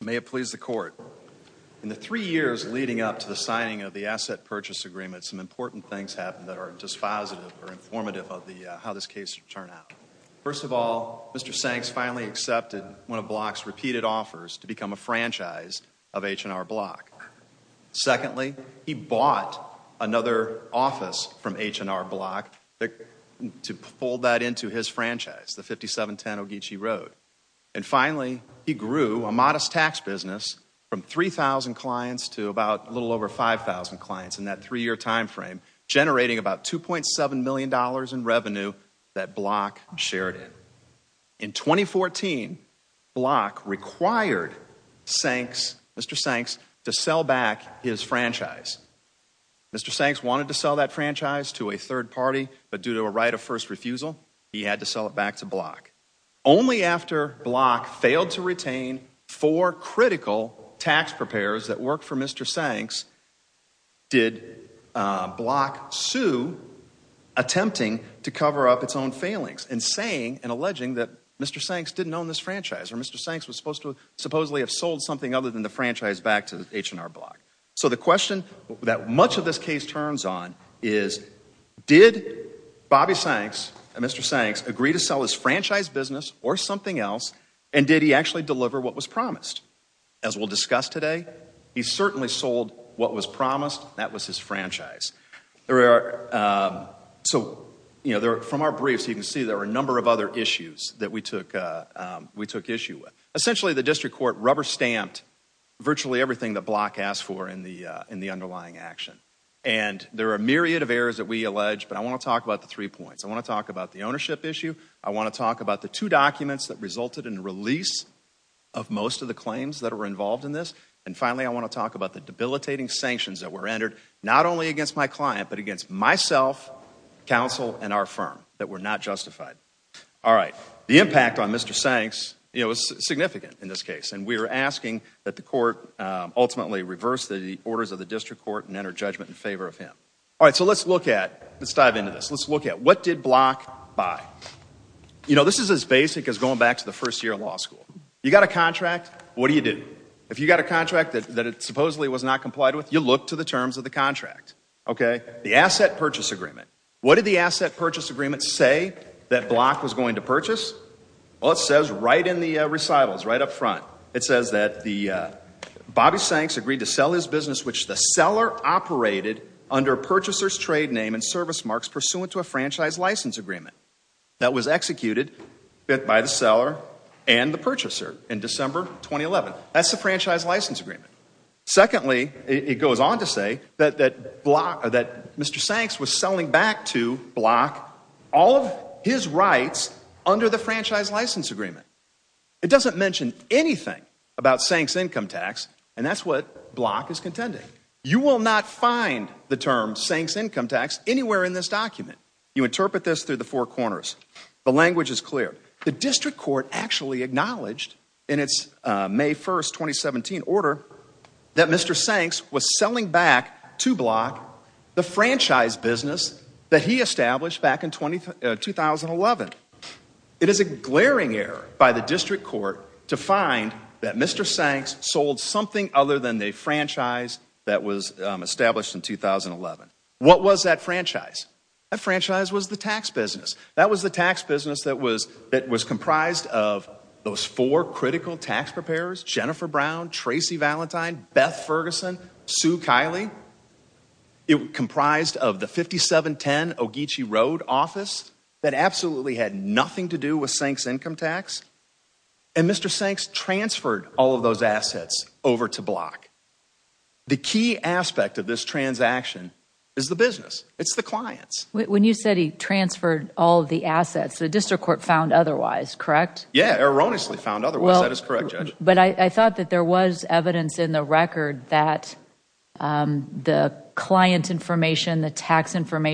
May it please the Court, in the three years leading up to the signing of the Asset Purchase Agreement, some important things happened that are dispositive or informative of how this case should turn out. First of all, Mr. Sanks finally accepted one of Block's repeated offers to become a franchise of H&R Block. Secondly, he bought another office from H&R Block to fold that into his franchise, the 5710 Ogeechee Road. And finally, he grew a modest tax business from 3,000 clients to a little over 5,000 clients in that three-year time frame, generating about $2.7 million in revenue that Block shared in. In 2014, Block required Sanks, Mr. Sanks, to sell back his franchise. Mr. Sanks wanted to sell that franchise to a third party, but due to a right of first refusal, he had to sell it back to Block. Only after Block failed to retain four critical tax preparers that worked for Mr. Sanks, did Block sue, attempting to cover up its own failings, and saying and alleging that Mr. Sanks didn't own this franchise, or Mr. Sanks was supposed to supposedly have sold something other than the franchise back to H&R Block. So the question that much of this case turns on is, did Bobby Sanks and Mr. Sanks agree to sell his franchise business or something else, and did he actually deliver what was promised? As we'll discuss today, he certainly sold what was promised. That was his franchise. So from our briefs, you can see there are a number of other issues that we took issue with. Essentially, the district court rubber-stamped virtually everything that Block asked for in the underlying action. And there are a myriad of errors that we allege, but I want to talk about the three points. I want to talk about the ownership issue. I want to talk about the two documents that resulted in the release of most of the claims that were involved in this. And finally, I want to talk about the debilitating sanctions that were entered, not only against my client, but against myself, counsel, and our firm, that were not justified. Alright, the impact on Mr. Sanks, you know, was significant in this case, and we are asking that the court ultimately reverse the orders of the district court and enter judgment in favor of him. Alright, so let's look at, let's dive into this. Let's look at what did Block buy? You know, this is as basic as going back to the first year of law school. You got a contract, what do you do? If you got a contract that supposedly was not complied with, you look to the terms of the contract. Okay? The asset purchase agreement. What did the asset purchase agreement say that Block was going to purchase? Well, it says right in the recitals, right up front, it says that Bobby Sanks agreed to sell his business which the seller operated under purchaser's trade name and service marks pursuant to a franchise license agreement that was executed by the seller and the purchaser in December 2011. That's the franchise license agreement. Secondly, it goes on to say that Mr. Sanks was selling back to Block all of his rights under the franchise license agreement. It doesn't mention anything about Sanks income tax, and that's what Block is contending. You will not find the term Sanks income tax anywhere in this document. You interpret this through the four corners. The language is clear. The district court actually acknowledged in its May 1st, 2017 order that Mr. Sanks was selling back to Block the franchise business that he established back in 2011. It is a glaring error by the district court to find that Mr. Sanks sold something other than a franchise that was established in 2011. What was that franchise? That franchise was the tax business. That was the tax business that was comprised of those four critical tax preparers, Jennifer Brown, Tracy Valentine, Beth Ferguson, Sue Kiley. It comprised of the 5710 Ogeechee Road office that absolutely had nothing to do with Sanks income tax. And Mr. Sanks transferred all of those assets over to Block. The key aspect of this transaction is the business. It's the clients. When you said he transferred all of the assets, the district court found otherwise, correct? Yeah, erroneously found otherwise. That is correct, Judge. But I thought that there was evidence in the record that the client information, the tax Am I wrong?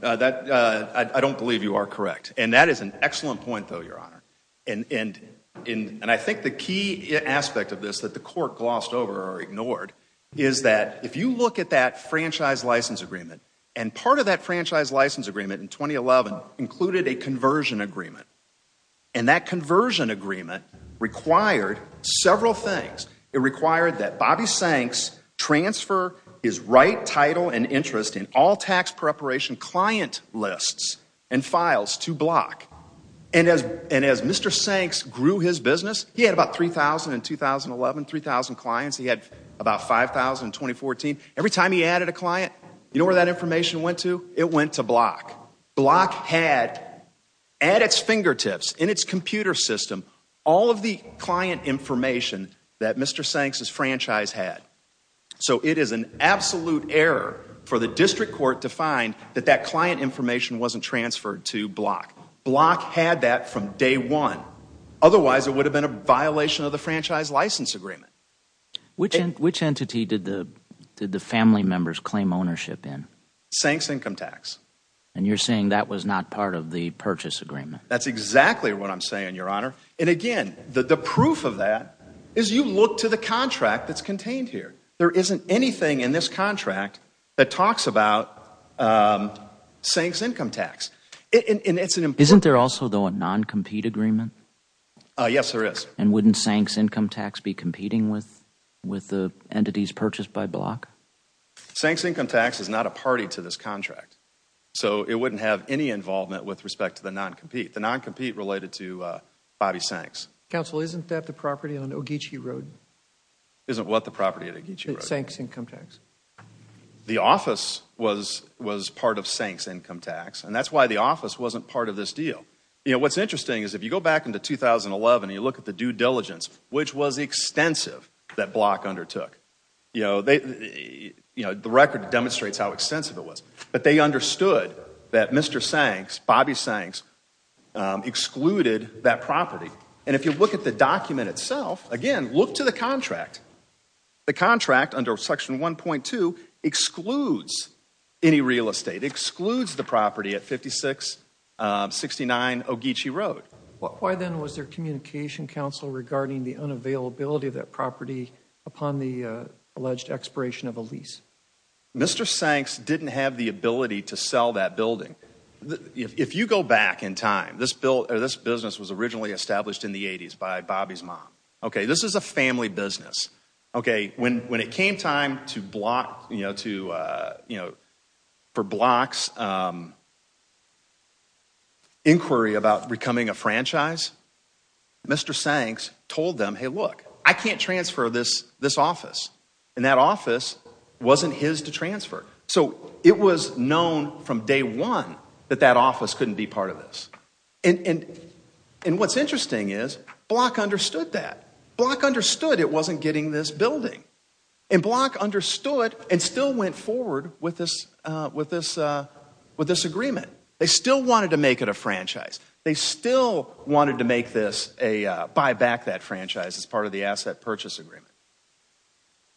I don't believe you are correct. And that is an excellent point though, Your Honor. I think the key aspect of this that the court glossed over or ignored is that if you look at that franchise license agreement, and part of that franchise license agreement in 2011 included a conversion agreement. And that conversion agreement required several things. It required that Bobby Sanks transfer his right title and interest in all tax preparation client lists and files to Block. And as Mr. Sanks grew his business, he had about 3,000 in 2011, 3,000 clients. He had about 5,000 in 2014. Every time he added a client, you know where that information went to? It went to Block. Block had at its fingertips, in its computer system, all of the client information that Mr. Sanks' franchise had. So it is an absolute error for the district court to find that that client information wasn't transferred to Block. Block had that from day one. Otherwise, it would have been a violation of the franchise license agreement. Which entity did the family members claim ownership in? Sanks Income Tax. And you're saying that was not part of the purchase agreement? That's exactly what I'm saying, Your Honor. And again, the proof of that is you look to the contract that's contained here. There isn't anything in this contract that talks about Sanks Income Tax. Isn't there also, though, a non-compete agreement? Yes, there is. And wouldn't Sanks Income Tax be competing with the entities purchased by Block? Sanks Income Tax is not a party to this contract. So it wouldn't have any involvement with respect to the non-compete. The non-compete related to Bobby Sanks. Counsel, isn't that the property on Ogeechee Road? Isn't what the property at Ogeechee Road? Sanks Income Tax. The office was part of Sanks Income Tax. And that's why the office wasn't part of this deal. You know, what's interesting is if you go back into 2011 and you look at the due diligence, which was extensive that Block undertook. You know, the record demonstrates how extensive it was. But they understood that Mr. Sanks, Bobby Sanks, excluded that property. And if you look at the document itself, again, look to the contract. The contract under Section 1.2 excludes any real estate, excludes the property at 5669 Ogeechee Road. Why then was there communication, counsel, regarding the unavailability of that property upon the alleged expiration of a lease? Mr. Sanks didn't have the ability to sell that building. If you go back in time, this business was originally established in the 80s by Bobby's mom. Okay, this is a family business. Okay, when it came time for Block's inquiry about becoming a franchise, Mr. Sanks told them, hey, look, I can't transfer this office. And that office wasn't his to transfer. So it was known from day one that that office couldn't be part of this. And what's interesting is Block understood that. Block understood it wasn't getting this building. And Block understood and still went forward with this agreement. They still wanted to make it a franchise. They still wanted to make this a, buy back that franchise as part of the asset purchase agreement.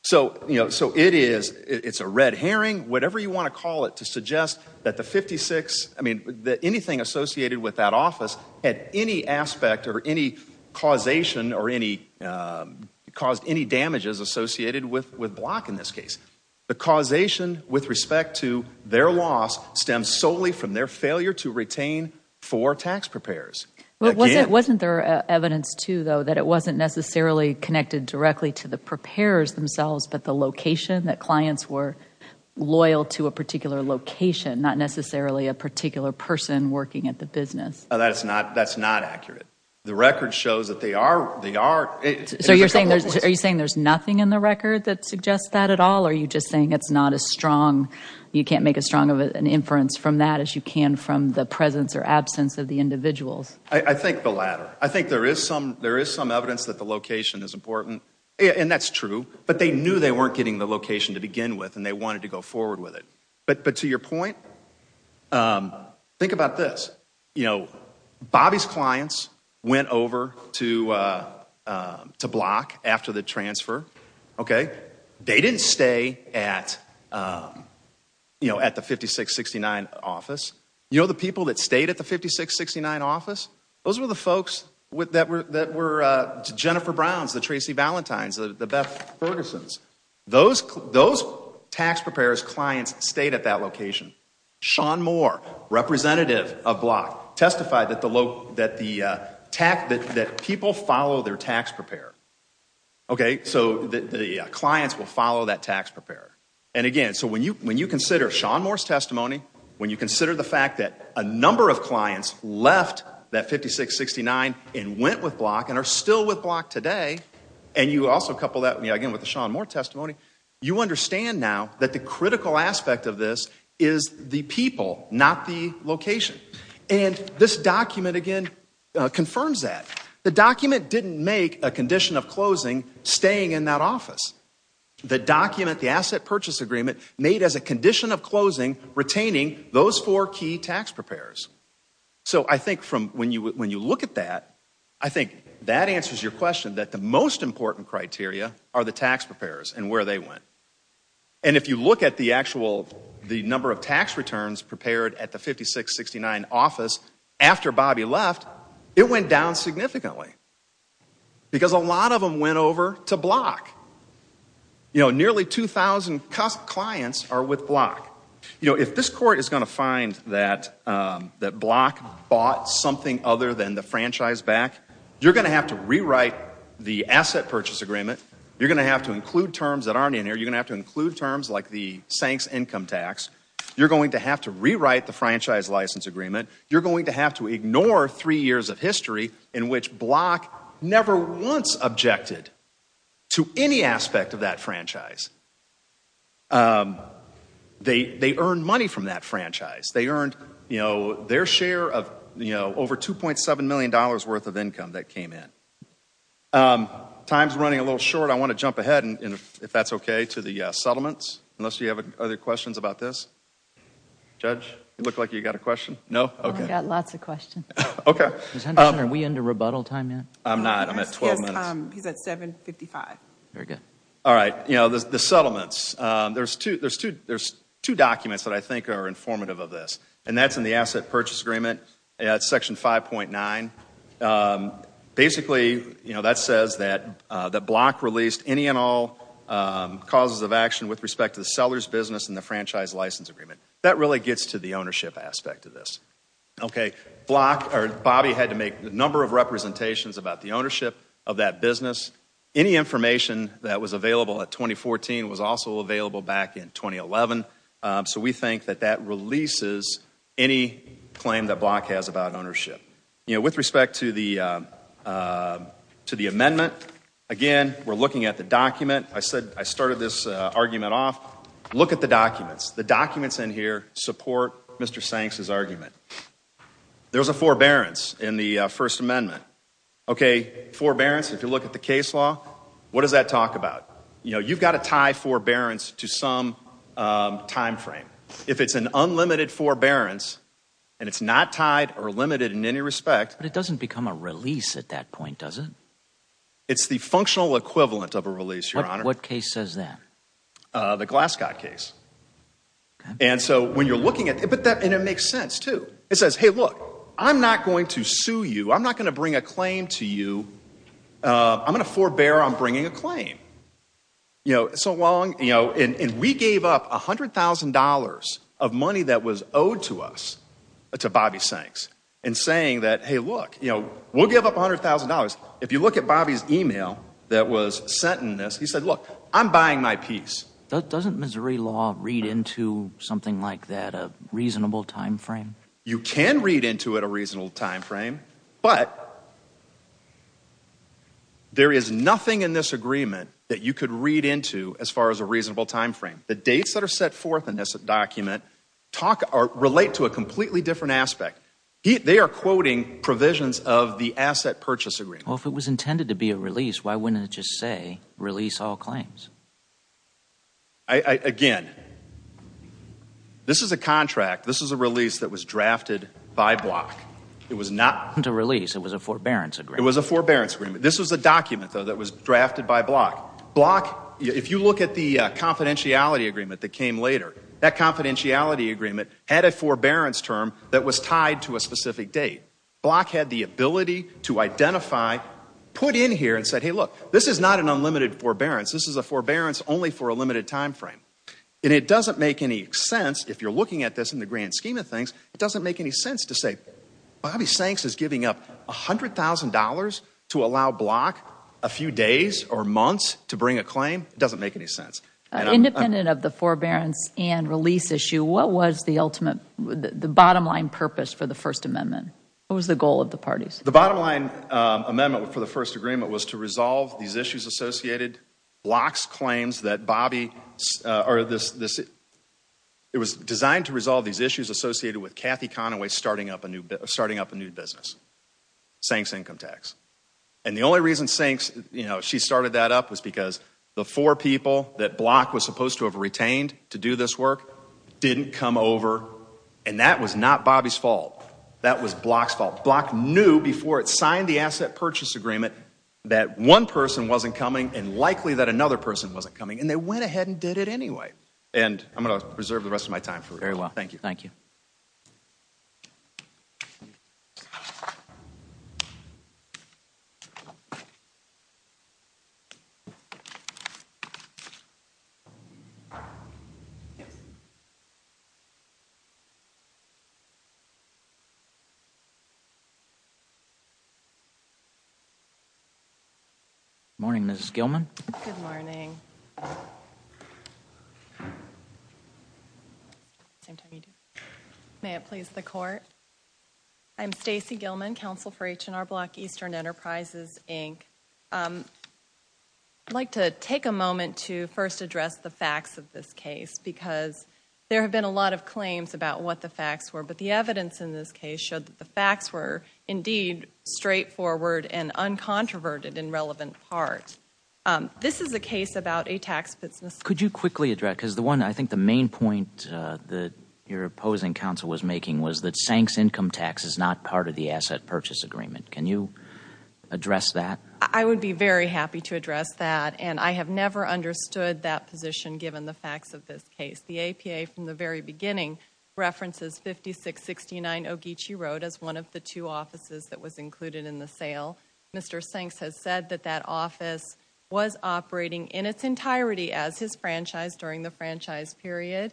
So, you know, so it is, it's a red herring, whatever you want to call it, to suggest that the 56, I mean, that anything associated with that office had any aspect or any causation or any, caused any damages associated with Block in this case. The causation with respect to their loss stems solely from their failure to retain four tax preparers. Wasn't there evidence too, though, that it wasn't necessarily connected directly to the preparers themselves, but the location, that clients were loyal to a particular location, not necessarily a particular person working at the business? That's not, that's not accurate. The record shows that they are, they are. So you're saying, are you saying there's nothing in the record that suggests that at all? Or are you just saying it's not as strong, you can't make as strong of an inference from that as you can from the presence or absence of the individuals? I think the latter. I think there is some, there is some evidence that the location is important. And that's true. But they knew they weren't getting the location to begin with and they wanted to go forward with it. But to your point, think about this. You know, Bobby's clients went over to Block after the transfer. Okay. They didn't stay at, you know, at the 5669 office. You know the people that stayed at the 5669 office? Those were the folks that were, that were Jennifer Brown's, the Tracy Valentine's, the Beth Ferguson's. Those, those tax preparers' clients stayed at that location. Sean Moore, representative of Block, testified that the, that the tax, that people follow their tax preparer. Okay, so the clients will follow that tax preparer. And again, so when you, when you consider Sean Moore's testimony, when you consider the fact that a number of clients left that 5669 and went with Block and are still with Block today, and you also couple that again with the Sean Moore testimony, you understand now that the critical aspect of this is the people, not the location. And this document, again, confirms that. The document didn't make a condition of closing staying in that office. The document, the asset purchase agreement, made as a condition of closing retaining those four key tax preparers. So I think from, when you, when you look at that, I think that answers your question that the most important criteria are the tax preparers and where they went. And if you look at the actual, the number of tax returns prepared at the 5669 office after Bobby left, it went down significantly because a lot of them went over to Block. You know, nearly 2,000 clients are with Block. You know, if this court is going to find that, that Block bought something other than the franchise back, you're going to have to rewrite the asset purchase agreement. You're going to have to include terms that aren't in here. You're going to have to include terms like the Sanks income tax. You're going to have to rewrite the franchise license agreement. You're going to have to ignore three years of history in which Block never once objected to any aspect of that franchise. They, they earned money from that franchise. They earned, you know, their share of, you know, over $2.7 million worth of income that came in. Time's running a little short. I want to jump ahead, if that's okay, to the settlements, unless you have other questions about this. Judge, you look like you got a question. No? Okay. I've got lots of questions. Okay. Ms. Henderson, are we into rebuttal time yet? I'm not. I'm at 12 minutes. He's at 7.55. Very good. All right. You know, the settlements, there's two, there's two, there's two documents that I think are informative of this, and that's in the asset purchase agreement at section 5.9. Basically, you know, that says that, that Block released any and all causes of action with respect to the seller's business and the franchise license agreement. That really gets to the ownership aspect of this. Okay. Block, or Bobby had to make a number of representations about the ownership of that business. Any information that was available at 2014 was also available back in 2011. So we think that that releases any claim that Block has about ownership. You know, with respect to the, to the amendment, again, we're looking at the document. I said, I started this argument off. Look at the documents. The documents in here support Mr. Sanks's argument. There was a forbearance in the First Amendment. Okay. Forbearance, if you look at the case law, what does that talk about? You know, you've got to tie forbearance to some timeframe. If it's an unlimited forbearance, and it's not tied or limited in any respect. But it doesn't become a release at that point, does it? It's the functional equivalent of a release, Your Honor. What case says that? The Glasgow case. And so when you're looking at it, but that, and it makes sense too. It says, hey, look, I'm not going to sue you. I'm not going to bring a claim to you. I'm going to forbear on bringing a claim. You know, so long, you know, and we gave up $100,000 of money that was owed to us, to Bobby Sanks. And saying that, hey, look, you know, we'll give up $100,000. If you look at Bobby's email that was sent in this, he said, look, I'm buying my piece. Doesn't Missouri law read into something like that a reasonable timeframe? You can read into it a reasonable timeframe. But there is nothing in this agreement that you could read into as far as a reasonable timeframe. The dates that are set forth in this document talk or relate to a completely different aspect. They are quoting provisions of the asset purchase agreement. Well, if it was intended to be a release, why wouldn't it just say release all claims? Again, this is a contract. This is a release that was drafted by Block. It was not a release. It was a forbearance agreement. It was a forbearance agreement. This was a document, though, that was drafted by Block. Block, if you look at the confidentiality agreement that came later, that confidentiality agreement had a forbearance term that was tied to a specific date. Block had the ability to identify, put in here and said, hey, look, this is not an unlimited forbearance. This is a forbearance only for a limited timeframe. And it doesn't make any sense, if you're looking at this in the grand scheme of things, it doesn't make any sense to say Bobby Sanks is giving up $100,000 to allow Block a few days or months to bring a claim. It doesn't make any sense. Independent of the forbearance and release issue, what was the bottom line purpose for the First Amendment? What was the goal of the parties? The bottom line amendment for the first agreement was to resolve these issues associated. Block's claims that Bobby, or this, it was designed to resolve these issues associated with Kathy Conaway starting up a new business, Sanks Income Tax. And the only reason Sanks, you know, she started that up was because the four people that Block was supposed to have retained to do this work didn't come over. And that was not Bobby's fault. That was Block's fault. Block knew before it signed the asset purchase agreement that one person wasn't coming and likely that another person wasn't coming. And they went ahead and did it anyway. And I'm going to reserve the rest of my time for it. Thank you. Thank you. Good morning, Mrs. Gilman. Good morning. May it please the court? I'm Stacey Gilman, counsel for H&R Block Eastern Enterprises, Inc. I'd like to take a moment to first address the facts of this case because there have been a lot of claims about what the facts were. But the evidence in this case showed that the facts were indeed straightforward and uncontroverted in relevant parts. This is a case about a tax business. Could you quickly address, because the one, I think the main point that your opposing counsel was making was that Sanks Income Tax is not part of the asset purchase agreement. Can you address that? I would be very happy to address that. And I have never understood that position given the facts of this case. The APA, from the very beginning, references 5669 Ogeechee Road as one of the two offices that was included in the sale. Mr. Sanks has said that that office was operating in its entirety as his franchise during the franchise period.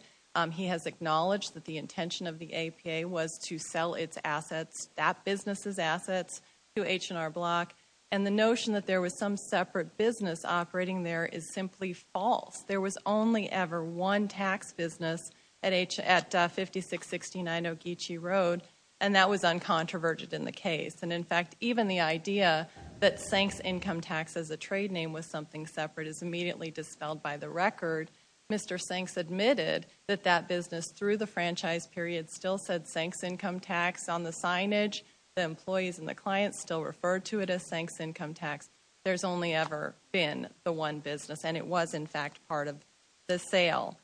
He has acknowledged that the intention of the APA was to sell its assets, that business's assets, to H&R Block. And the notion that there was some separate business operating there is simply false. There was only ever one tax business at 5669 Ogeechee Road, and that was uncontroverted in the case. And, in fact, even the idea that Sanks Income Tax as a trade name was something separate is immediately dispelled by the record. Mr. Sanks admitted that that business, through the franchise period, still said Sanks Income Tax on the signage. The employees and the clients still referred to it as Sanks Income Tax. There's only ever been the one business, and it was, in fact, part of the sale.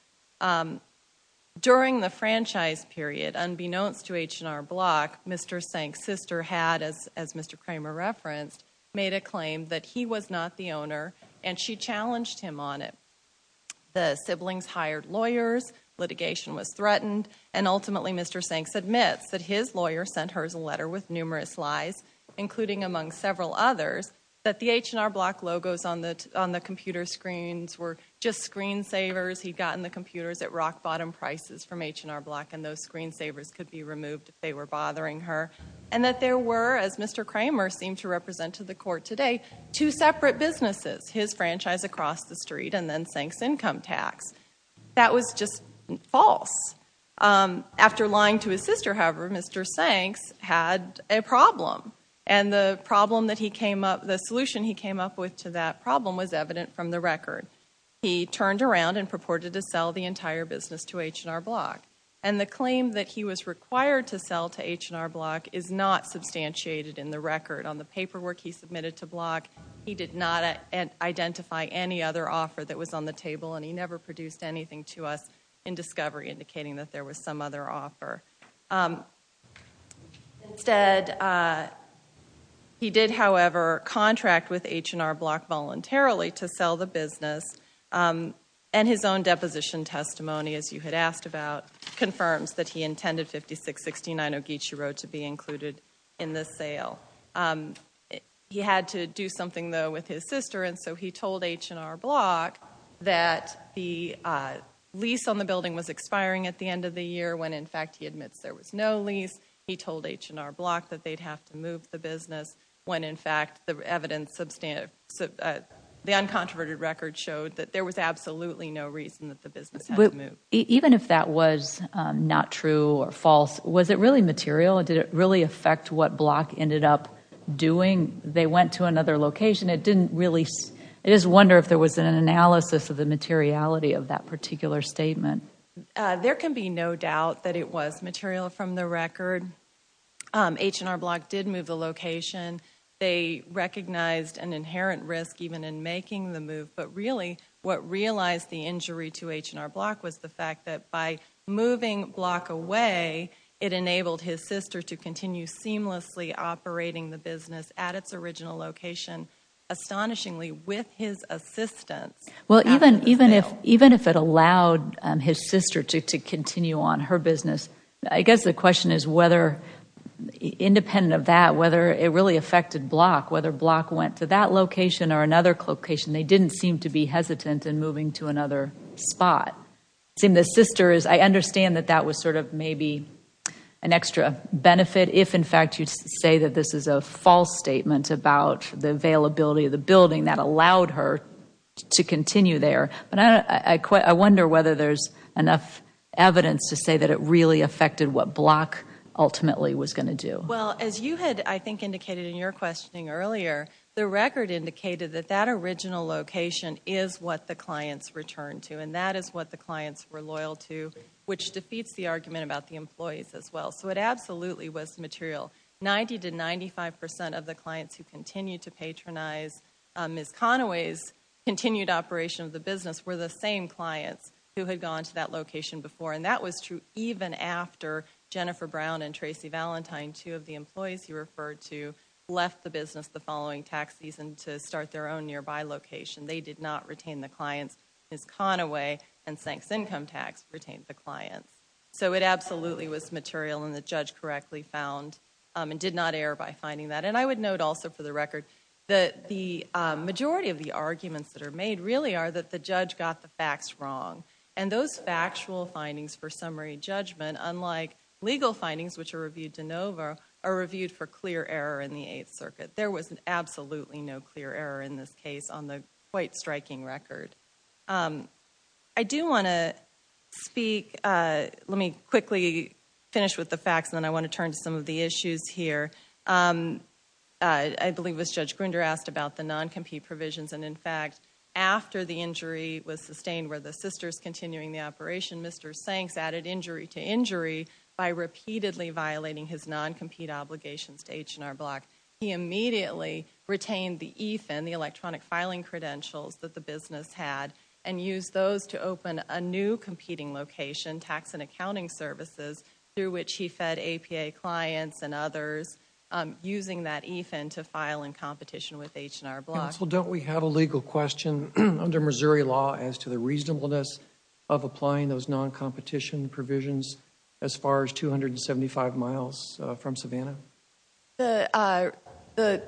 During the franchise period, unbeknownst to H&R Block, Mr. Sanks' sister had, as Mr. Kramer referenced, made a claim that he was not the owner, and she challenged him on it. The siblings hired lawyers, litigation was threatened, and ultimately Mr. Sanks admits that his lawyer sent her a letter with numerous lies, including among several others, that the H&R Block logos on the computer screens were just screensavers. He'd gotten the computers at rock-bottom prices from H&R Block, and those screensavers could be removed if they were bothering her, and that there were, as Mr. Kramer seemed to represent to the court today, two separate businesses, his franchise across the street and then Sanks Income Tax. That was just false. After lying to his sister, however, Mr. Sanks had a problem, and the solution he came up with to that problem was evident from the record. He turned around and purported to sell the entire business to H&R Block, and the claim that he was required to sell to H&R Block is not substantiated in the record. On the paperwork he submitted to Block, he did not identify any other offer that was on the table, and he never produced anything to us in discovery indicating that there was some other offer. Instead, he did, however, contract with H&R Block voluntarily to sell the business, and his own deposition testimony, as you had asked about, confirms that he intended 5669 Ogeechee Road to be included in the sale. He had to do something, though, with his sister, and so he told H&R Block that the lease on the building was expiring at the end of the year when, in fact, he admits there was no lease. He told H&R Block that they'd have to move the business when, in fact, the uncontroverted record showed that there was absolutely no reason that the business had to move. Even if that was not true or false, was it really material, and did it really affect what Block ended up doing? They went to another location. I just wonder if there was an analysis of the materiality of that particular statement. There can be no doubt that it was material from the record. H&R Block did move the location. They recognized an inherent risk even in making the move, but really what realized the injury to H&R Block was the fact that by moving Block away, it enabled his sister to continue seamlessly operating the business at its original location, astonishingly with his assistance. Well, even if it allowed his sister to continue on her business, I guess the question is whether, independent of that, whether it really affected Block, whether Block went to that location or another location, they didn't seem to be hesitant in moving to another spot. I understand that that was sort of maybe an extra benefit if, in fact, you say that this is a false statement about the availability of the building that allowed her to continue there, but I wonder whether there's enough evidence to say that it really affected what Block ultimately was going to do. Well, as you had, I think, indicated in your questioning earlier, the record indicated that that original location is what the clients returned to, and that is what the clients were loyal to, which defeats the argument about the employees as well. So it absolutely was material. Ninety to 95% of the clients who continued to patronize Ms. Conaway's continued operation of the business were the same clients who had gone to that location before, and that was true even after Jennifer Brown and Tracy Valentine, two of the employees you referred to, left the business the following tax season to start their own nearby location. They did not retain the clients. Ms. Conaway and Sanks Income Tax retained the clients. So it absolutely was material, and the judge correctly found and did not err by finding that. And I would note also for the record that the majority of the arguments that are made really are that the judge got the facts wrong, and those factual findings for summary judgment, unlike legal findings, which are reviewed de novo, are reviewed for clear error in the Eighth Circuit. There was absolutely no clear error in this case on the quite striking record. I do want to speak. Let me quickly finish with the facts, and then I want to turn to some of the issues here. I believe it was Judge Grunder asked about the non-compete provisions, and, in fact, after the injury was sustained where the sister's continuing the operation, Mr. Sanks added injury to injury by repeatedly violating his non-compete obligations to H&R Block. He immediately retained the EFIN, the electronic filing credentials that the business had, and used those to open a new competing location, tax and accounting services, through which he fed APA clients and others using that EFIN to file in competition with H&R Block. Counsel, don't we have a legal question under Missouri law as to the reasonableness of applying those non-competition provisions as far as 275 miles from Savannah? The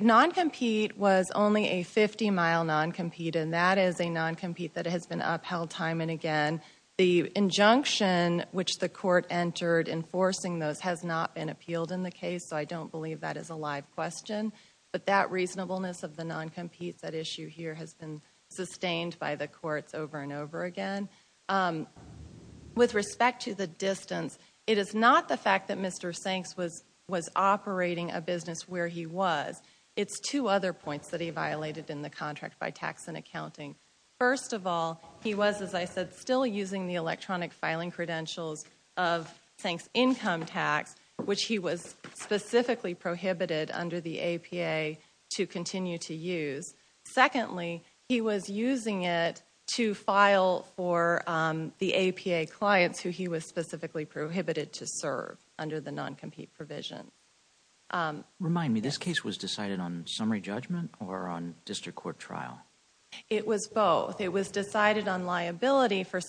non-compete was only a 50-mile non-compete, and that is a non-compete that has been upheld time and again. The injunction which the court entered enforcing those has not been appealed in the case, so I don't believe that is a live question. But that reasonableness of the non-compete, that issue here, has been sustained by the courts over and over again. With respect to the distance, it is not the fact that Mr. Sanks was operating a business where he was. It's two other points that he violated in the contract by tax and accounting. First of all, he was, as I said, still using the electronic filing credentials of Sanks' income tax, which he was specifically prohibited under the APA to continue to use. Secondly, he was using it to file for the APA clients who he was specifically prohibited to serve under the non-compete provision. Remind me, this case was decided on summary judgment or on district court trial? It was both. It was decided on liability for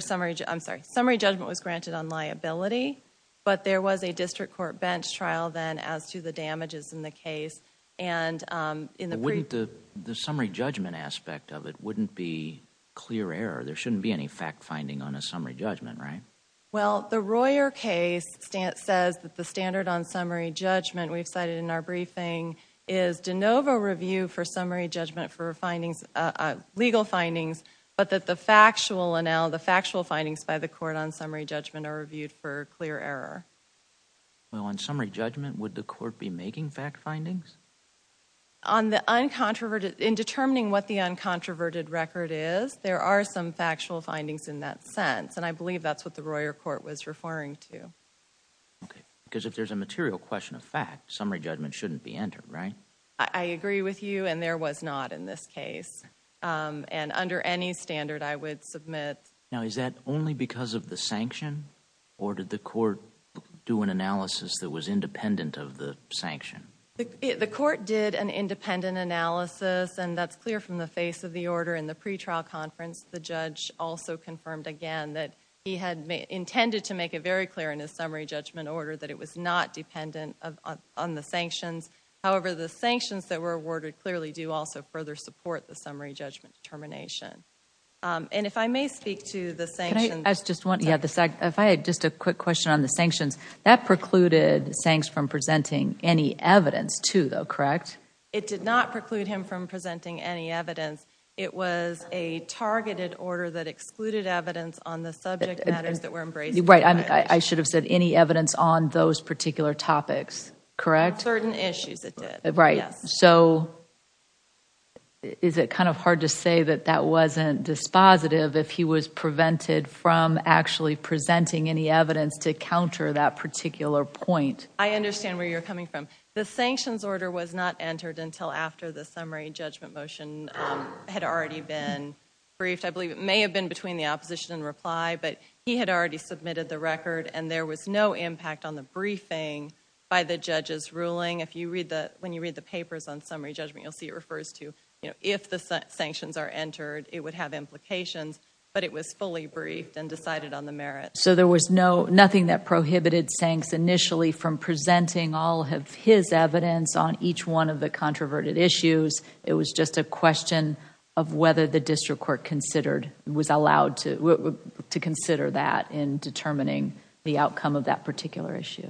summary judgment. I'm sorry. Summary judgment was granted on liability, but there was a district court bench trial then as to the damages in the case. The summary judgment aspect of it wouldn't be clear error. There shouldn't be any fact-finding on a summary judgment, right? Well, the Royer case says that the standard on summary judgment we've cited in our briefing is de novo review for summary judgment for legal findings, but that the factual findings by the court on summary judgment are reviewed for clear error. Well, on summary judgment, would the court be making fact findings? In determining what the uncontroverted record is, there are some factual findings in that sense, and I believe that's what the Royer court was referring to. Okay, because if there's a material question of fact, summary judgment shouldn't be entered, right? I agree with you, and there was not in this case. And under any standard, I would submit. Now, is that only because of the sanction, or did the court do an analysis that was independent of the sanction? The court did an independent analysis, and that's clear from the face of the order in the pretrial conference. The judge also confirmed again that he had intended to make it very clear in his summary judgment order that it was not dependent on the sanctions. However, the sanctions that were awarded clearly do also further support the summary judgment determination. And if I may speak to the sanctions. If I had just a quick question on the sanctions, that precluded Sangs from presenting any evidence, too, though, correct? It did not preclude him from presenting any evidence. It was a targeted order that excluded evidence on the subject matters that were embraced by the judge. Right, I should have said any evidence on those particular topics, correct? Certain issues it did, yes. So, is it kind of hard to say that that wasn't dispositive if he was prevented from actually presenting any evidence to counter that particular point? I understand where you're coming from. The sanctions order was not entered until after the summary judgment motion had already been briefed. I believe it may have been between the opposition and reply, but he had already submitted the record, and there was no impact on the briefing by the judge's ruling. When you read the papers on summary judgment, you'll see it refers to if the sanctions are entered, it would have implications, but it was fully briefed and decided on the merits. So there was nothing that prohibited Sangs initially from presenting all of his evidence on each one of the controverted issues. It was just a question of whether the district court was allowed to consider that in determining the outcome of that particular issue.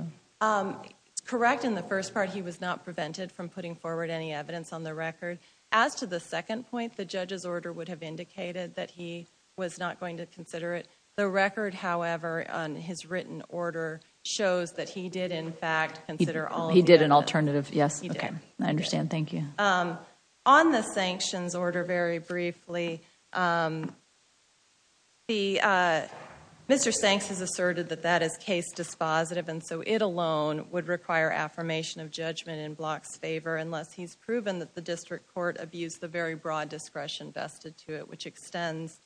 Correct in the first part, he was not prevented from putting forward any evidence on the record. As to the second point, the judge's order would have indicated that he was not going to consider it. The record, however, on his written order shows that he did, in fact, consider all of that. He did an alternative, yes. He did. I understand, thank you. On the sanctions order, very briefly, Mr. Sangs has asserted that that is case dispositive, and so it alone would require affirmation of judgment in Block's favor, unless he's proven that the district court abused the very broad discretion vested to it, which extends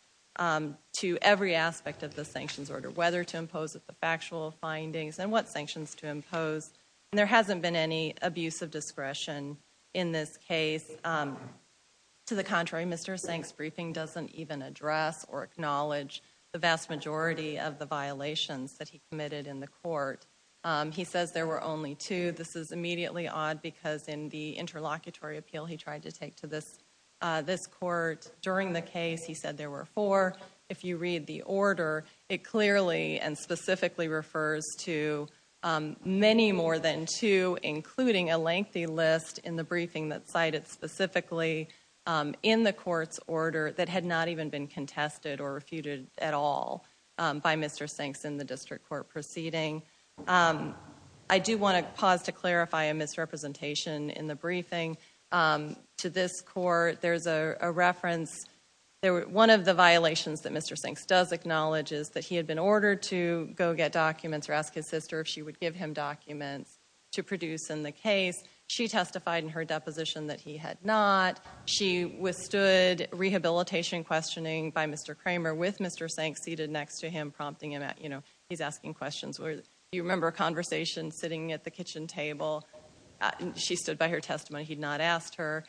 to every aspect of the sanctions order, whether to impose the factual findings and what sanctions to impose. There hasn't been any abuse of discretion in this case. To the contrary, Mr. Sangs' briefing doesn't even address or acknowledge the vast majority of the violations that he committed in the court. He says there were only two. This is immediately odd because in the interlocutory appeal he tried to take to this court during the case, he said there were four. If you read the order, it clearly and specifically refers to many more than two, including a lengthy list in the briefing that cited specifically in the court's order that had not even been contested or refuted at all by Mr. Sangs in the district court proceeding. I do want to pause to clarify a misrepresentation in the briefing. To this court, there's a reference. One of the violations that Mr. Sangs does acknowledge is that he had been ordered to go get documents or ask his sister if she would give him documents to produce in the case. She testified in her deposition that he had not. She withstood rehabilitation questioning by Mr. Kramer with Mr. Sangs seated next to him, prompting him. You know, he's asking questions. You remember a conversation sitting at the kitchen table. She stood by her testimony. He had not asked her.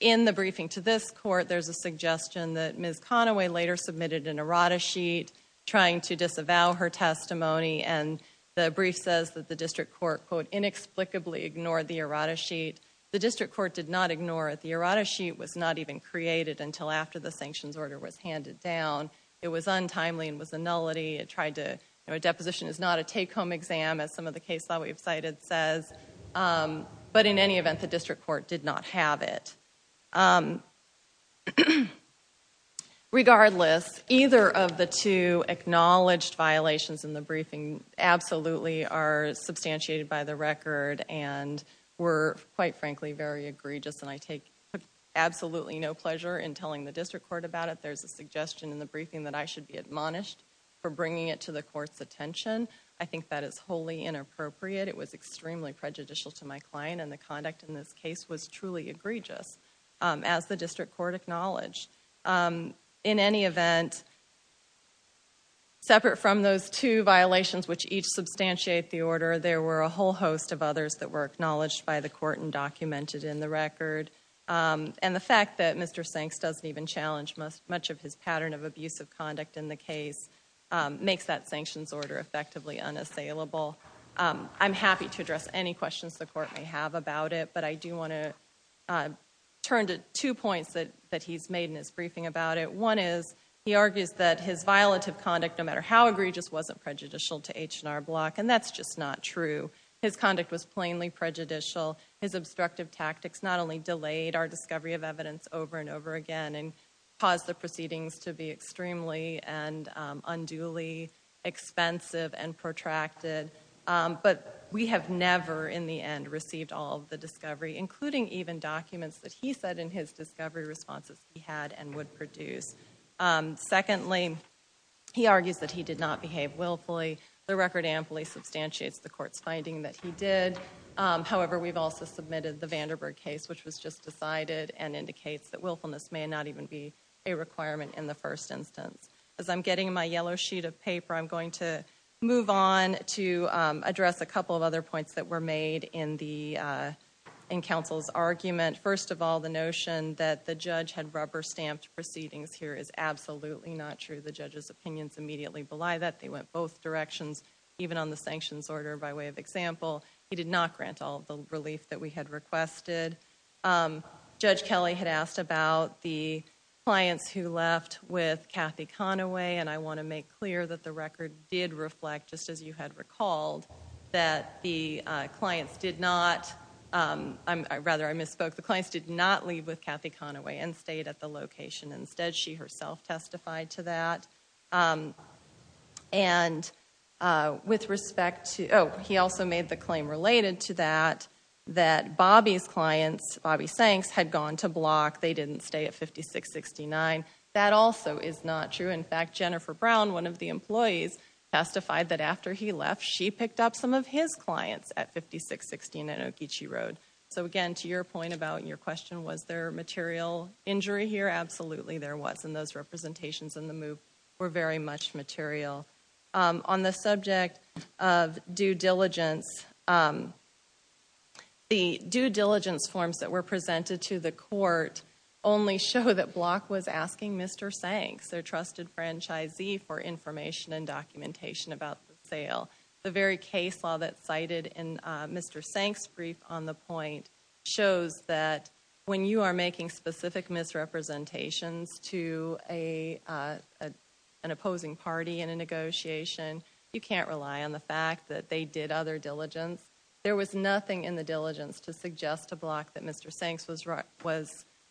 In the briefing to this court, there's a suggestion that Ms. Conaway later submitted an errata sheet trying to disavow her testimony, and the brief says that the district court, quote, inexplicably ignored the errata sheet. The district court did not ignore it. The errata sheet was not even created until after the sanctions order was handed down. It was untimely and was a nullity. A deposition is not a take-home exam, as some of the case law we've cited says. But in any event, the district court did not have it. Regardless, either of the two acknowledged violations in the briefing absolutely are substantiated by the record and were, quite frankly, very egregious, and I take absolutely no pleasure in telling the district court about it. There's a suggestion in the briefing that I should be admonished for bringing it to the court's attention. I think that is wholly inappropriate. It was extremely prejudicial to my client, and the conduct in this case was truly egregious, as the district court acknowledged. In any event, separate from those two violations which each substantiate the order, there were a whole host of others that were acknowledged by the court and documented in the record, and the fact that Mr. Sanks doesn't even challenge much of his pattern of abusive conduct in the case makes that sanctions order effectively unassailable. I'm happy to address any questions the court may have about it, but I do want to turn to two points that he's made in his briefing about it. One is he argues that his violative conduct, no matter how egregious, wasn't prejudicial to H&R Block, and that's just not true. His conduct was plainly prejudicial. His obstructive tactics not only delayed our discovery of evidence over and over again and caused the proceedings to be extremely and unduly expensive and protracted, but we have never in the end received all of the discovery, including even documents that he said in his discovery responses he had and would produce. Secondly, he argues that he did not behave willfully. The record amply substantiates the court's finding that he did. However, we've also submitted the Vanderburg case, which was just decided and indicates that willfulness may not even be a requirement in the first instance. As I'm getting my yellow sheet of paper, I'm going to move on to address a couple of other points that were made in counsel's argument. First of all, the notion that the judge had rubber-stamped proceedings here is absolutely not true. The judge's opinions immediately belie that. They went both directions, even on the sanctions order, by way of example. He did not grant all of the relief that we had requested. Judge Kelly had asked about the clients who left with Kathy Conaway, and I want to make clear that the record did reflect, just as you had recalled, that the clients did not—rather, I misspoke. The clients did not leave with Kathy Conaway and stayed at the location. Instead, she herself testified to that. And with respect to—oh, he also made the claim related to that, that Bobby's clients, Bobby Sanks, had gone to block. They didn't stay at 5669. That also is not true. In fact, Jennifer Brown, one of the employees, testified that after he left, she picked up some of his clients at 5669 Okeechee Road. So, again, to your point about your question, was there material injury here? Absolutely there was, and those representations in the MOOC were very much material. On the subject of due diligence, the due diligence forms that were presented to the court only show that block was asking Mr. Sanks, their trusted franchisee, for information and documentation about the sale. The very case law that's cited in Mr. Sanks' brief on the point shows that when you are making specific misrepresentations to an opposing party in a negotiation, you can't rely on the fact that they did other diligence. There was nothing in the diligence to suggest to block that Mr. Sanks was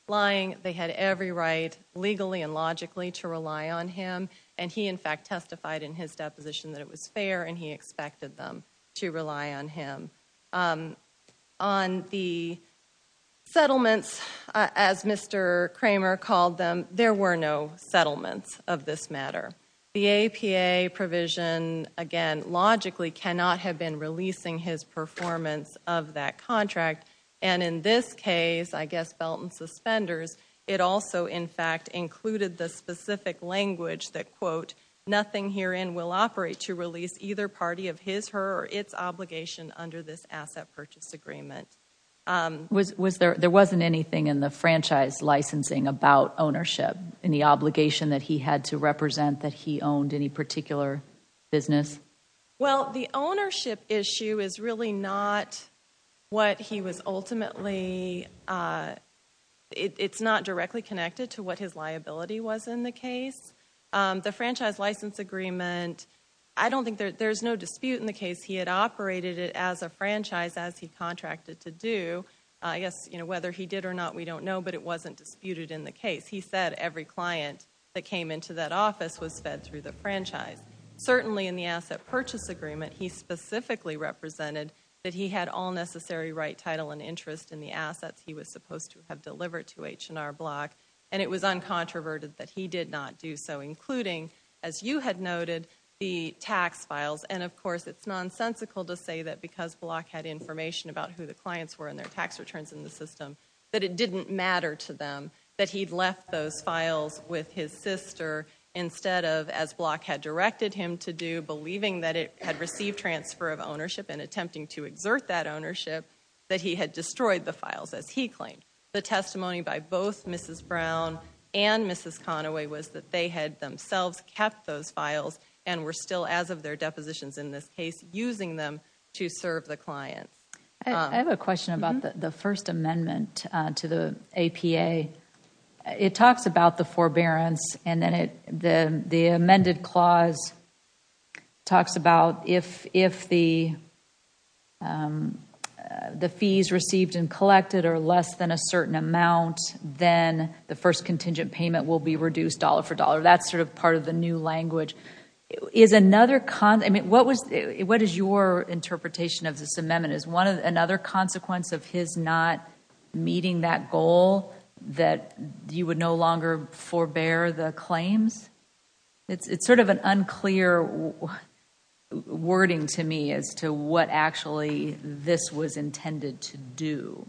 lying. They had every right, legally and logically, to rely on him, and he, in fact, testified in his deposition that it was fair, and he expected them to rely on him. On the settlements, as Mr. Kramer called them, there were no settlements of this matter. The APA provision, again, logically cannot have been releasing his performance of that contract, and in this case, I guess, Belton suspenders, it also, in fact, included the specific language that, quote, nothing herein will operate to release either party of his, her, or its obligation under this asset purchase agreement. There wasn't anything in the franchise licensing about ownership and the obligation that he had to represent that he owned any particular business? Well, the ownership issue is really not what he was ultimately... It's not directly connected to what his liability was in the case. The franchise license agreement, I don't think there's no dispute in the case. He had operated it as a franchise, as he contracted to do. I guess, you know, whether he did or not, we don't know, but it wasn't disputed in the case. He said every client that came into that office was fed through the franchise. Certainly, in the asset purchase agreement, he specifically represented that he had all necessary right, title, and interest in the assets he was supposed to have delivered to H&R Block, and it was uncontroverted that he did not do so, including, as you had noted, the tax files. And, of course, it's nonsensical to say that because Block had information about who the clients were and their tax returns in the system, that it didn't matter to them that he'd left those files with his sister instead of, as Block had directed him to do, believing that it had received transfer of ownership and attempting to exert that ownership, that he had destroyed the files, as he claimed. The testimony by both Mrs. Brown and Mrs. Conaway was that they had themselves kept those files and were still, as of their depositions in this case, using them to serve the clients. I have a question about the First Amendment to the APA. It talks about the forbearance, and then the amended clause talks about if the fees received and collected are less than a certain amount, then the first contingent payment will be reduced dollar for dollar. That's sort of part of the new language. What is your interpretation of this amendment? Is another consequence of his not meeting that goal that you would no longer forbear the claims? It's sort of an unclear wording to me as to what actually this was intended to do.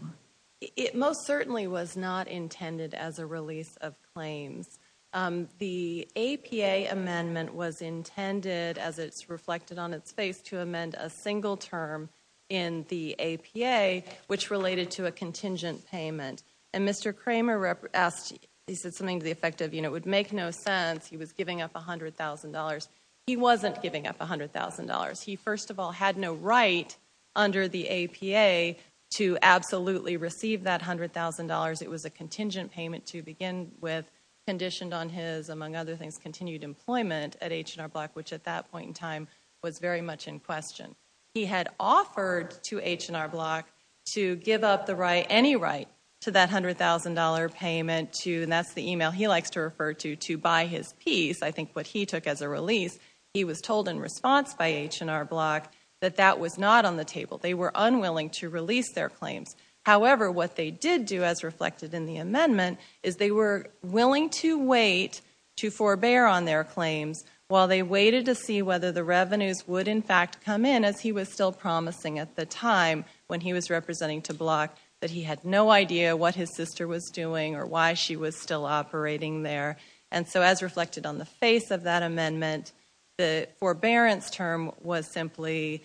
It most certainly was not intended as a release of claims. The APA amendment was intended, as it's reflected on its face, to amend a single term in the APA, which related to a contingent payment. And Mr. Kramer said something to the effect of, you know, it would make no sense. He was giving up $100,000. He wasn't giving up $100,000. He, first of all, had no right under the APA to absolutely receive that $100,000. It was a contingent payment to begin with, conditioned on his, among other things, continued employment at H&R Block, which at that point in time was very much in question. He had offered to H&R Block to give up the right, any right to that $100,000 payment to, and that's the email he likes to refer to, to buy his piece. I think what he took as a release, he was told in response by H&R Block that that was not on the table. They were unwilling to release their claims. However, what they did do, as reflected in the amendment, is they were willing to wait to forbear on their claims while they waited to see whether the revenues would in fact come in, as he was still promising at the time when he was representing to block, that he had no idea what his sister was doing or why she was still operating there. And so as reflected on the face of that amendment, the forbearance term was simply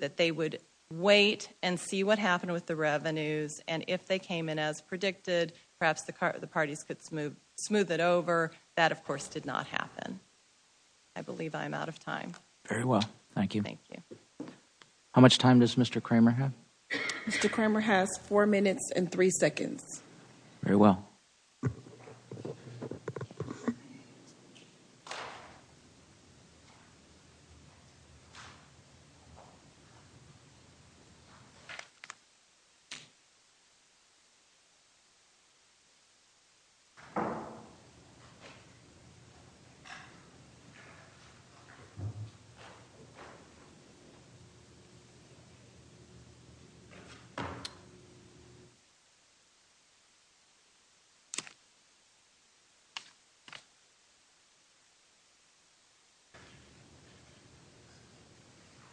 that they would wait and see what happened with the revenues, and if they came in as predicted, perhaps the parties could smooth it over. That, of course, did not happen. I believe I am out of time. Very well. Thank you. How much time does Mr. Kramer have? Mr. Kramer has four minutes and three seconds. Very well.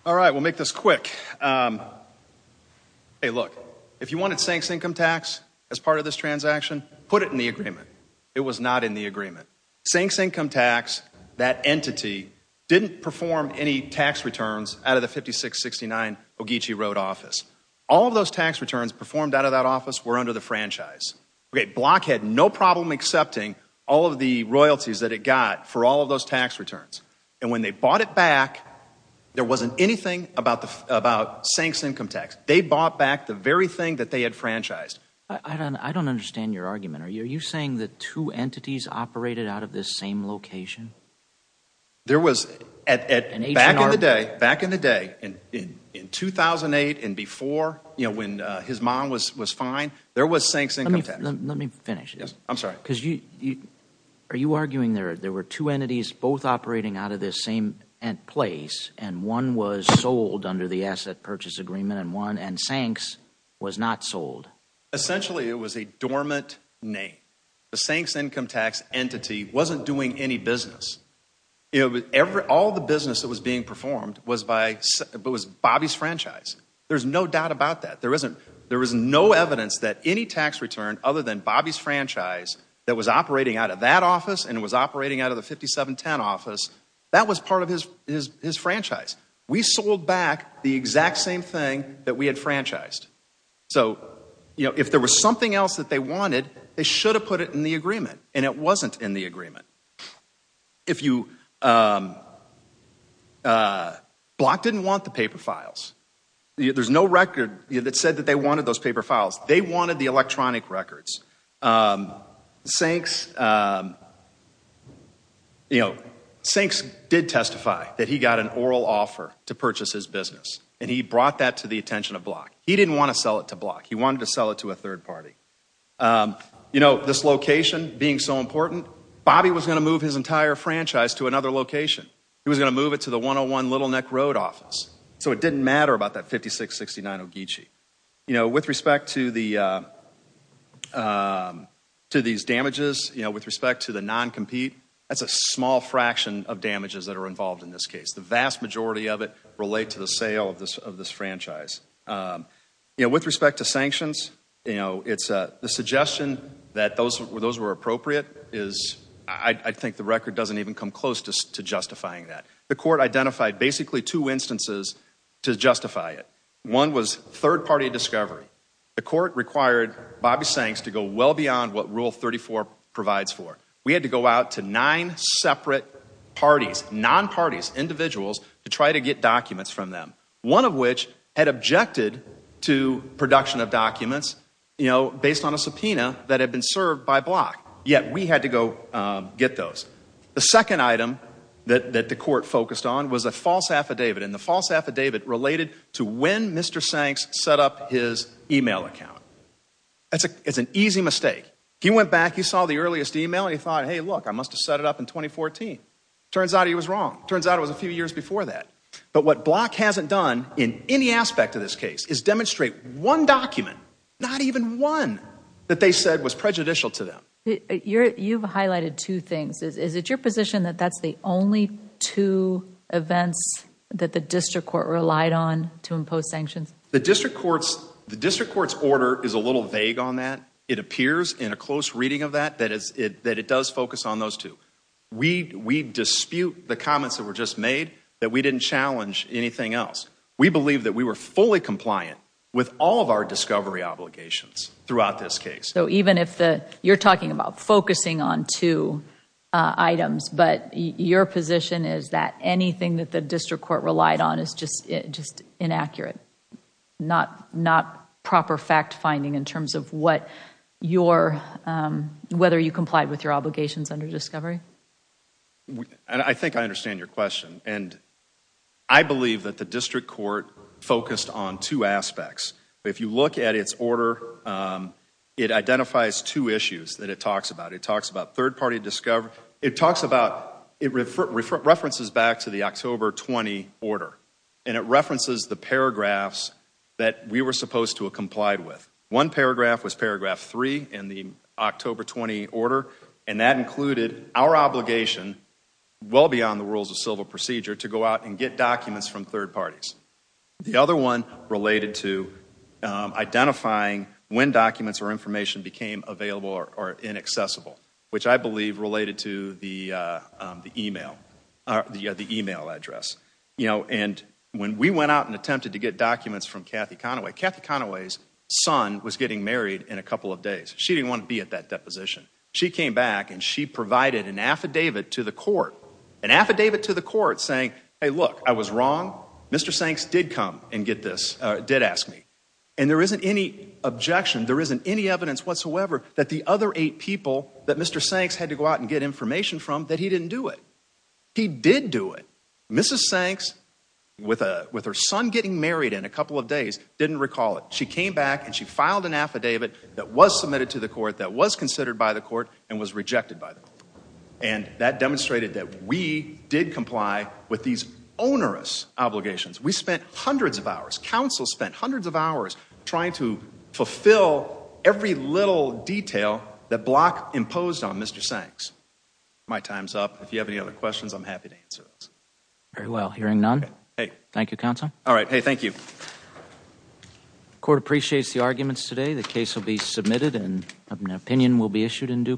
All right. We'll make this quick. Hey, look, if you wanted sanks income tax as part of this transaction, put it in the agreement. It was not in the agreement. Sanks income tax, that entity, didn't perform any tax returns out of the 5669 Ogeechee Road office. All of those tax returns performed out of that office were under the franchise. Block had no problem accepting all of the royalties that it got for all of those tax returns. And when they bought it back, there wasn't anything about sanks income tax. They bought back the very thing that they had franchised. I don't understand your argument. Are you saying the two entities operated out of this same location? Back in the day, in 2008 and before, when his mom was fine, there was sanks income tax. Let me finish. I'm sorry. Are you arguing there were two entities both operating out of this same place and one was sold under the asset purchase agreement and sanks was not sold? Essentially, it was a dormant name. The sanks income tax entity wasn't doing any business. All the business that was being performed was Bobby's franchise. There's no doubt about that. There is no evidence that any tax return other than Bobby's franchise that was operating out of that office and was operating out of the 5710 office, that was part of his franchise. We sold back the exact same thing that we had franchised. So if there was something else that they wanted, they should have put it in the agreement and it wasn't in the agreement. Block didn't want the paper files. There's no record that said that they wanted those paper files. They wanted the electronic records. Sanks did testify that he got an oral offer to purchase his business and he brought that to the attention of Block. He didn't want to sell it to Block. He wanted to sell it to a third party. This location being so important, Bobby was going to move his entire franchise to another location. He was going to move it to the 101 Little Neck Road office. So it didn't matter about that 5669 Ogeechee. With respect to these damages, with respect to the non-compete, that's a small fraction of damages that are involved in this case. The vast majority of it relate to the sale of this franchise. With respect to sanctions, the suggestion that those were appropriate, I think the record doesn't even come close to justifying that. The court identified basically two instances to justify it. One was third party discovery. The court required Bobby Sanks to go well beyond what Rule 34 provides for. We had to go out to nine separate parties, non-parties, individuals, to try to get documents from them. One of which had objected to production of documents based on a subpoena that had been served by Block. Yet we had to go get those. The second item that the court focused on was a false affidavit. And the false affidavit related to when Mr. Sanks set up his email account. It's an easy mistake. He went back, he saw the earliest email, and he thought, hey, look, I must have set it up in 2014. Turns out he was wrong. Turns out it was a few years before that. But what Block hasn't done in any aspect of this case is demonstrate one document, not even one, that they said was prejudicial to them. You've highlighted two things. Is it your position that that's the only two events that the district court relied on to impose sanctions? The district court's order is a little vague on that. It appears in a close reading of that that it does focus on those two. We dispute the comments that were just made that we didn't challenge anything else. We believe that we were fully compliant with all of our discovery obligations throughout this case. So even if you're talking about focusing on two items, but your position is that anything that the district court relied on is just inaccurate, not proper fact-finding in terms of whether you complied with your obligations under discovery? I think I understand your question. And I believe that the district court focused on two aspects. If you look at its order, it identifies two issues that it talks about. It talks about third-party discovery. It talks about, it references back to the October 20 order. And it references the paragraphs that we were supposed to have complied with. One paragraph was paragraph three in the October 20 order, and that included our obligation, well beyond the rules of civil procedure, to go out and get documents from third parties. The other one related to identifying when documents or information became available or inaccessible, which I believe related to the email address. And when we went out and attempted to get documents from Kathy Conaway, Kathy Conaway's son was getting married in a couple of days. She didn't want to be at that deposition. She came back, and she provided an affidavit to the court, an affidavit to the court saying, hey, look, I was wrong. Mr. Sanks did come and get this, did ask me. And there isn't any objection, there isn't any evidence whatsoever that the other eight people that Mr. Sanks had to go out and get information from, that he didn't do it. He did do it. Mrs. Sanks, with her son getting married in a couple of days, didn't recall it. She came back, and she filed an affidavit that was submitted to the court, that was considered by the court, and was rejected by the court. And that demonstrated that we did comply with these onerous obligations. We spent hundreds of hours, counsel spent hundreds of hours, trying to fulfill every little detail that Block imposed on Mr. Sanks. My time's up. If you have any other questions, I'm happy to answer those. Very well. Hearing none, thank you, Counsel. All right. Hey, thank you. The court appreciates the arguments today. The case will be submitted, and an opinion will be issued in due course.